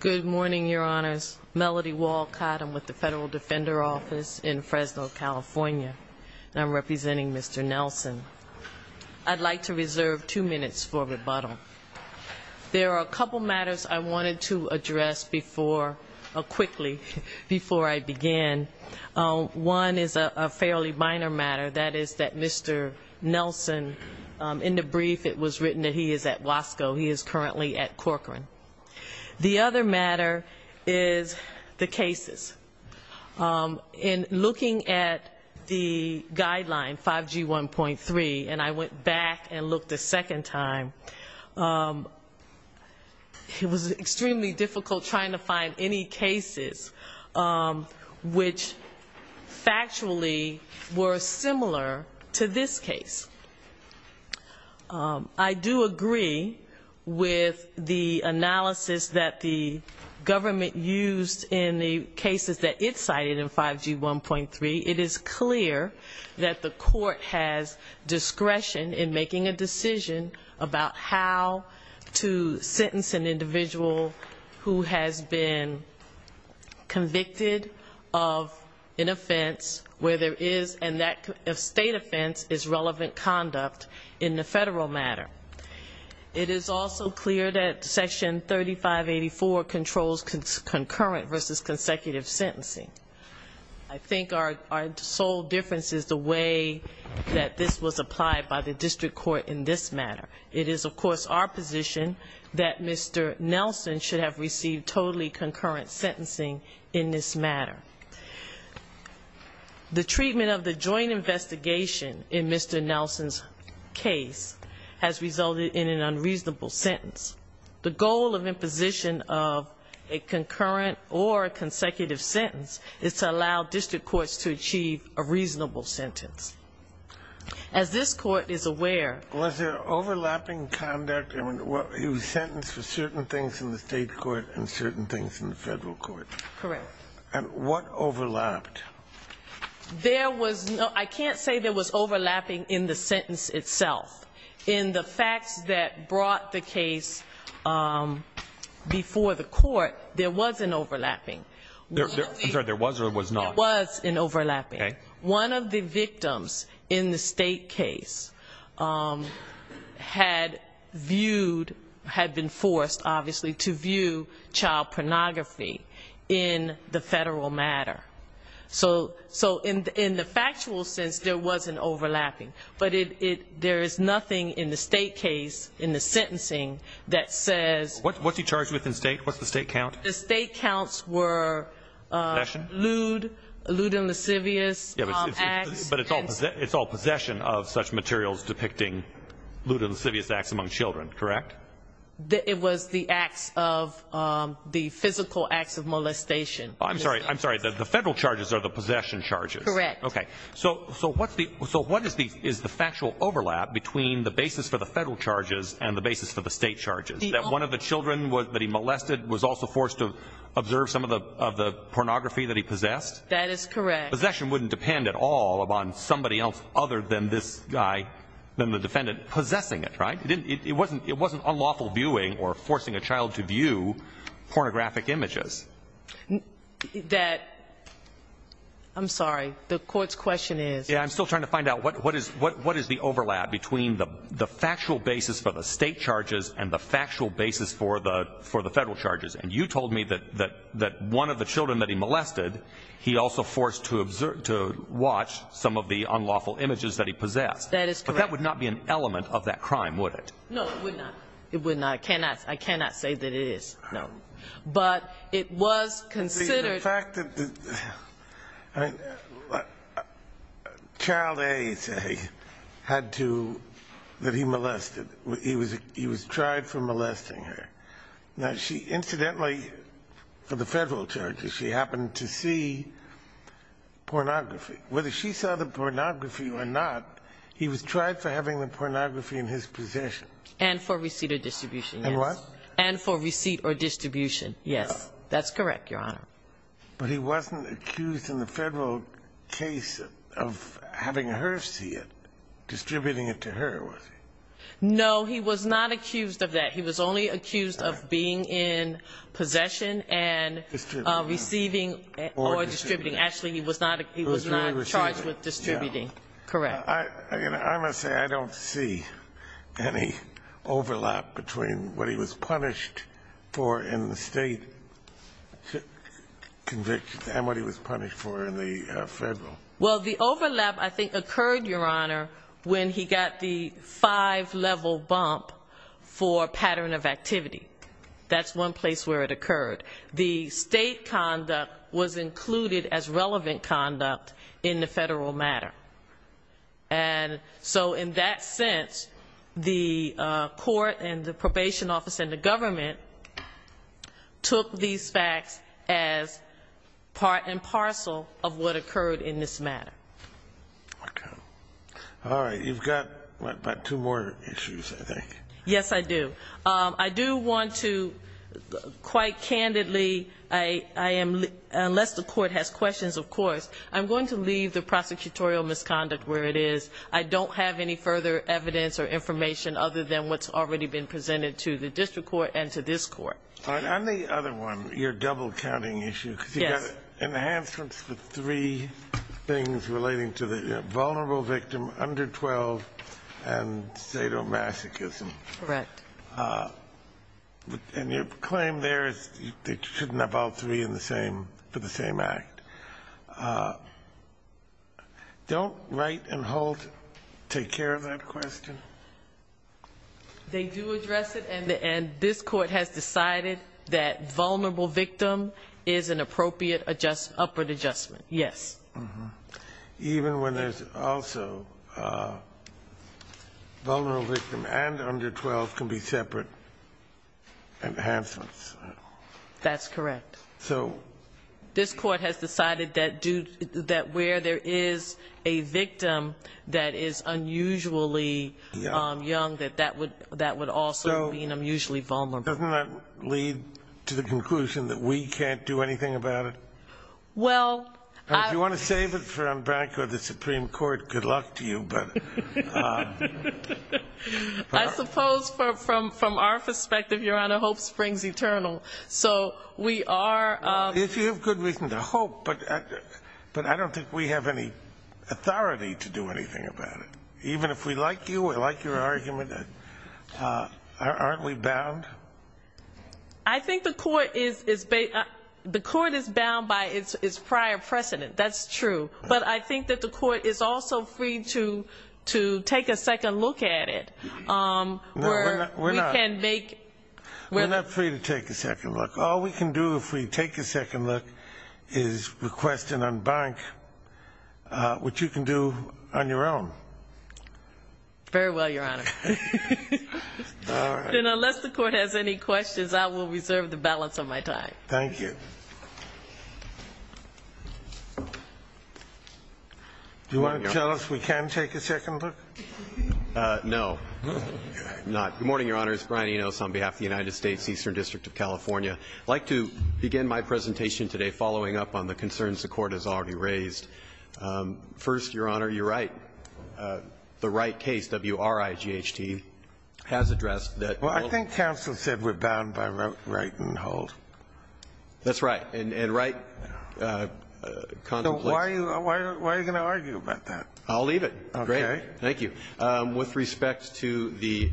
Good morning, your honors. Melody Walcott. I'm with the Federal Defender Office in Fresno, California, and I'm representing Mr. Nelson. I'd like to reserve two minutes for rebuttal. There are a couple matters I wanted to address quickly before I begin. One is a fairly minor matter, that is that Mr. Nelson, in the brief it was written that he is at Wasco. He is currently at Corcoran. The other matter is the cases. In looking at the guideline 5G 1.3, and I went back and looked a second time, it was extremely difficult trying to find any cases which factually were similar to this case. I do agree with the analysis that the government used in the cases that it cited in 5G 1.3. It is clear that the court has discretion in making a decision about how to sentence an individual who has been convicted of an offense where there is, and that state offense is relevant conduct in the federal matter. It is also clear that Section 3584 controls concurrent versus consecutive sentencing. I think our sole difference is the way that this was applied by the district court in this matter. It is, of course, our position that Mr. Nelson should have received totally concurrent sentencing in this matter. The treatment of the joint investigation in Mr. Nelson's case has resulted in an unreasonable sentence. The goal of imposition of a concurrent or consecutive sentence is to allow district courts to achieve a reasonable sentence. As this court is aware... Was there overlapping conduct? He was sentenced for certain things in the state court and certain things in the federal court. Correct. And what overlapped? I can't say there was overlapping in the sentence itself. In the facts that brought the case before the court, there was an overlapping. I'm sorry, there was or there was not? There was an overlapping. Okay. One of the victims in the state case had viewed, had been forced, obviously, to view child pornography in the federal matter. So in the factual sense, there wasn't overlapping. But there is nothing in the state case, in the sentencing, that says... What's he charged with in state? What's the state count? The state counts were lewd, lewd and lascivious acts. But it's all possession of such materials depicting lewd and lascivious acts among children, correct? It was the acts of the physical acts of molestation. I'm sorry. The federal charges are the possession charges. Correct. Okay. So what is the factual overlap between the basis for the federal charges and the basis for the state charges? That one of the children that he molested was also forced to observe some of the pornography that he possessed? That is correct. Possession wouldn't depend at all on somebody else other than this guy, than the defendant, possessing it, right? It wasn't unlawful viewing or forcing a child to view pornographic images. That... I'm sorry. The court's question is... I'm still trying to find out what is the overlap between the factual basis for the state charges and the factual basis for the federal charges. And you told me that one of the children that he molested, he also forced to watch some of the unlawful images that he possessed. That is correct. But that would not be an element of that crime, would it? No, it would not. It would not. I cannot say that it is, no. But it was considered... I... Child A, say, had to, that he molested, he was tried for molesting her. Now she, incidentally, for the federal charges, she happened to see pornography. Whether she saw the pornography or not, he was tried for having the pornography in his possession. And for receipt or distribution, yes. And what? And for receipt or distribution, yes. That's correct, Your Honor. But he wasn't accused in the federal case of having her see it, distributing it to her, was he? No, he was not accused of that. He was only accused of being in possession and receiving or distributing. Actually, he was not charged with distributing. Correct. I must say I don't see any overlap between what he was punished for in the state conviction and what he was punished for in the federal. Well, the overlap, I think, occurred, Your Honor, when he got the five-level bump for pattern of activity. That's one place where it occurred. The state conduct was included as relevant conduct in the federal matter. And so in that sense, the court and the probation office and the government took these facts as part and parcel of what occurred in this matter. Okay. All right. You've got about two more issues, I think. Yes, I do. I do want to quite candidly, unless the court has questions, of course, I'm going to leave the prosecutorial misconduct where it is. I don't have any further evidence or information other than what's already been presented to the district court and to this court. All right. On the other one, your double-counting issue, because you've got enhancements for three things relating to the vulnerable victim, under 12, and sadomasochism. Correct. And your claim there is they shouldn't have all three for the same act. Don't Wright and Holt take care of that question? They do address it, and this Court has decided that vulnerable victim is an appropriate upward adjustment, yes. Even when there's also vulnerable victim and under 12 can be separate enhancements. That's correct. This Court has decided that where there is a victim that is unusually young, that that would also mean unusually vulnerable. Doesn't that lead to the conclusion that we can't do anything about it? If you want to save it for the Supreme Court, good luck to you. I suppose from our perspective, Your Honor, hope springs eternal. If you have good reason to hope, but I don't think we have any authority to do anything about it. Even if we like you, we like your argument, aren't we bound? I think the Court is bound by its prior precedent. That's true. But I think that the Court is also free to take a second look at it. We're not free to take a second look. All we can do if we take a second look is request and unbank, which you can do on your own. Very well, Your Honor. All right. Then unless the Court has any questions, I will reserve the balance of my time. Thank you. Do you want to tell us we can take a second look? No. Good morning, Your Honors. Brian Enos on behalf of the United States Eastern District of California. I'd like to begin my presentation today following up on the concerns the Court has already raised. First, Your Honor, you're right. The Wright case, W-R-I-G-H-T, has addressed that. Well, I think counsel said we're bound by Wright and Holt. That's right. And Wright contemplates. Why are you going to argue about that? I'll leave it. Okay. Thank you. With respect to the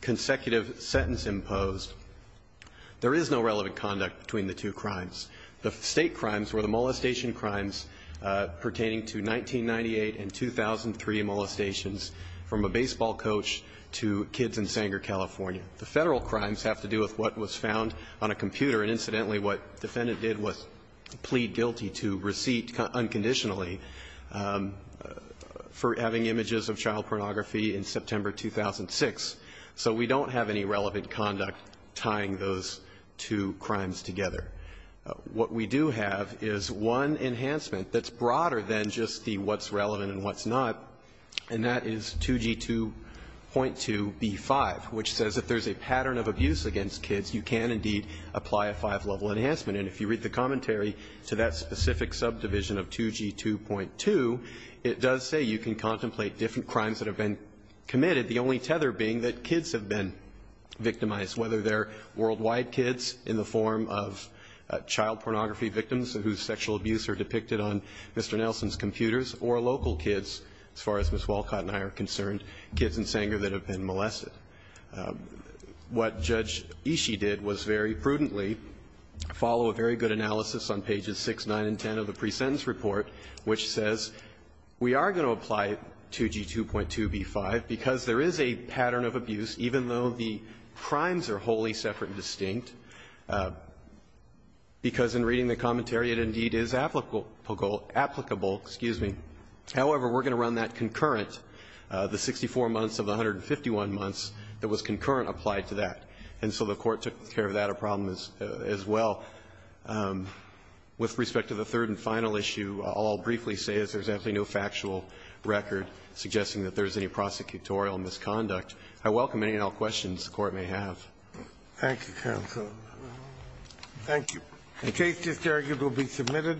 consecutive sentence imposed, there is no relevant conduct between the two crimes. The State crimes were the molestation crimes pertaining to 1998 and 2003 molestations from a baseball coach to kids in Sanger, California. The Federal crimes have to do with what was found on a computer, and incidentally what the defendant did was plead guilty to receipt unconditionally for having images of child pornography in September 2006. So we don't have any relevant conduct tying those two crimes together. What we do have is one enhancement that's broader than just the what's relevant and what's not, and that is 2G2.2B5, which says if there's a pattern of abuse against kids, you can indeed apply a five-level enhancement. And if you read the commentary to that specific subdivision of 2G2.2, it does say you can contemplate different crimes that have been committed, the only tether being that kids have been victimized, whether they're worldwide kids in the form of child pornography victims whose sexual abuse are depicted on Mr. Nelson's computers or local kids, as far as Ms. Walcott and I are concerned, kids in Sanger that have been molested. What Judge Ishii did was very prudently follow a very good analysis on pages 6, 9, and 10 of the presentence report, which says we are going to apply 2G2.2B5 because there is a pattern of abuse, even though the crimes are wholly separate and distinct, because in reading the commentary, it indeed is applicable goal – applicable, excuse me. However, we're going to run that concurrent, the 64 months of the 151 months that was concurrent applied to that. And so the Court took care of that a problem as well. With respect to the third and final issue, all I'll briefly say is there's absolutely no factual record suggesting that there's any prosecutorial misconduct. I welcome any and all questions the Court may have. Thank you, counsel. Thank you. The case is carried. It will be submitted.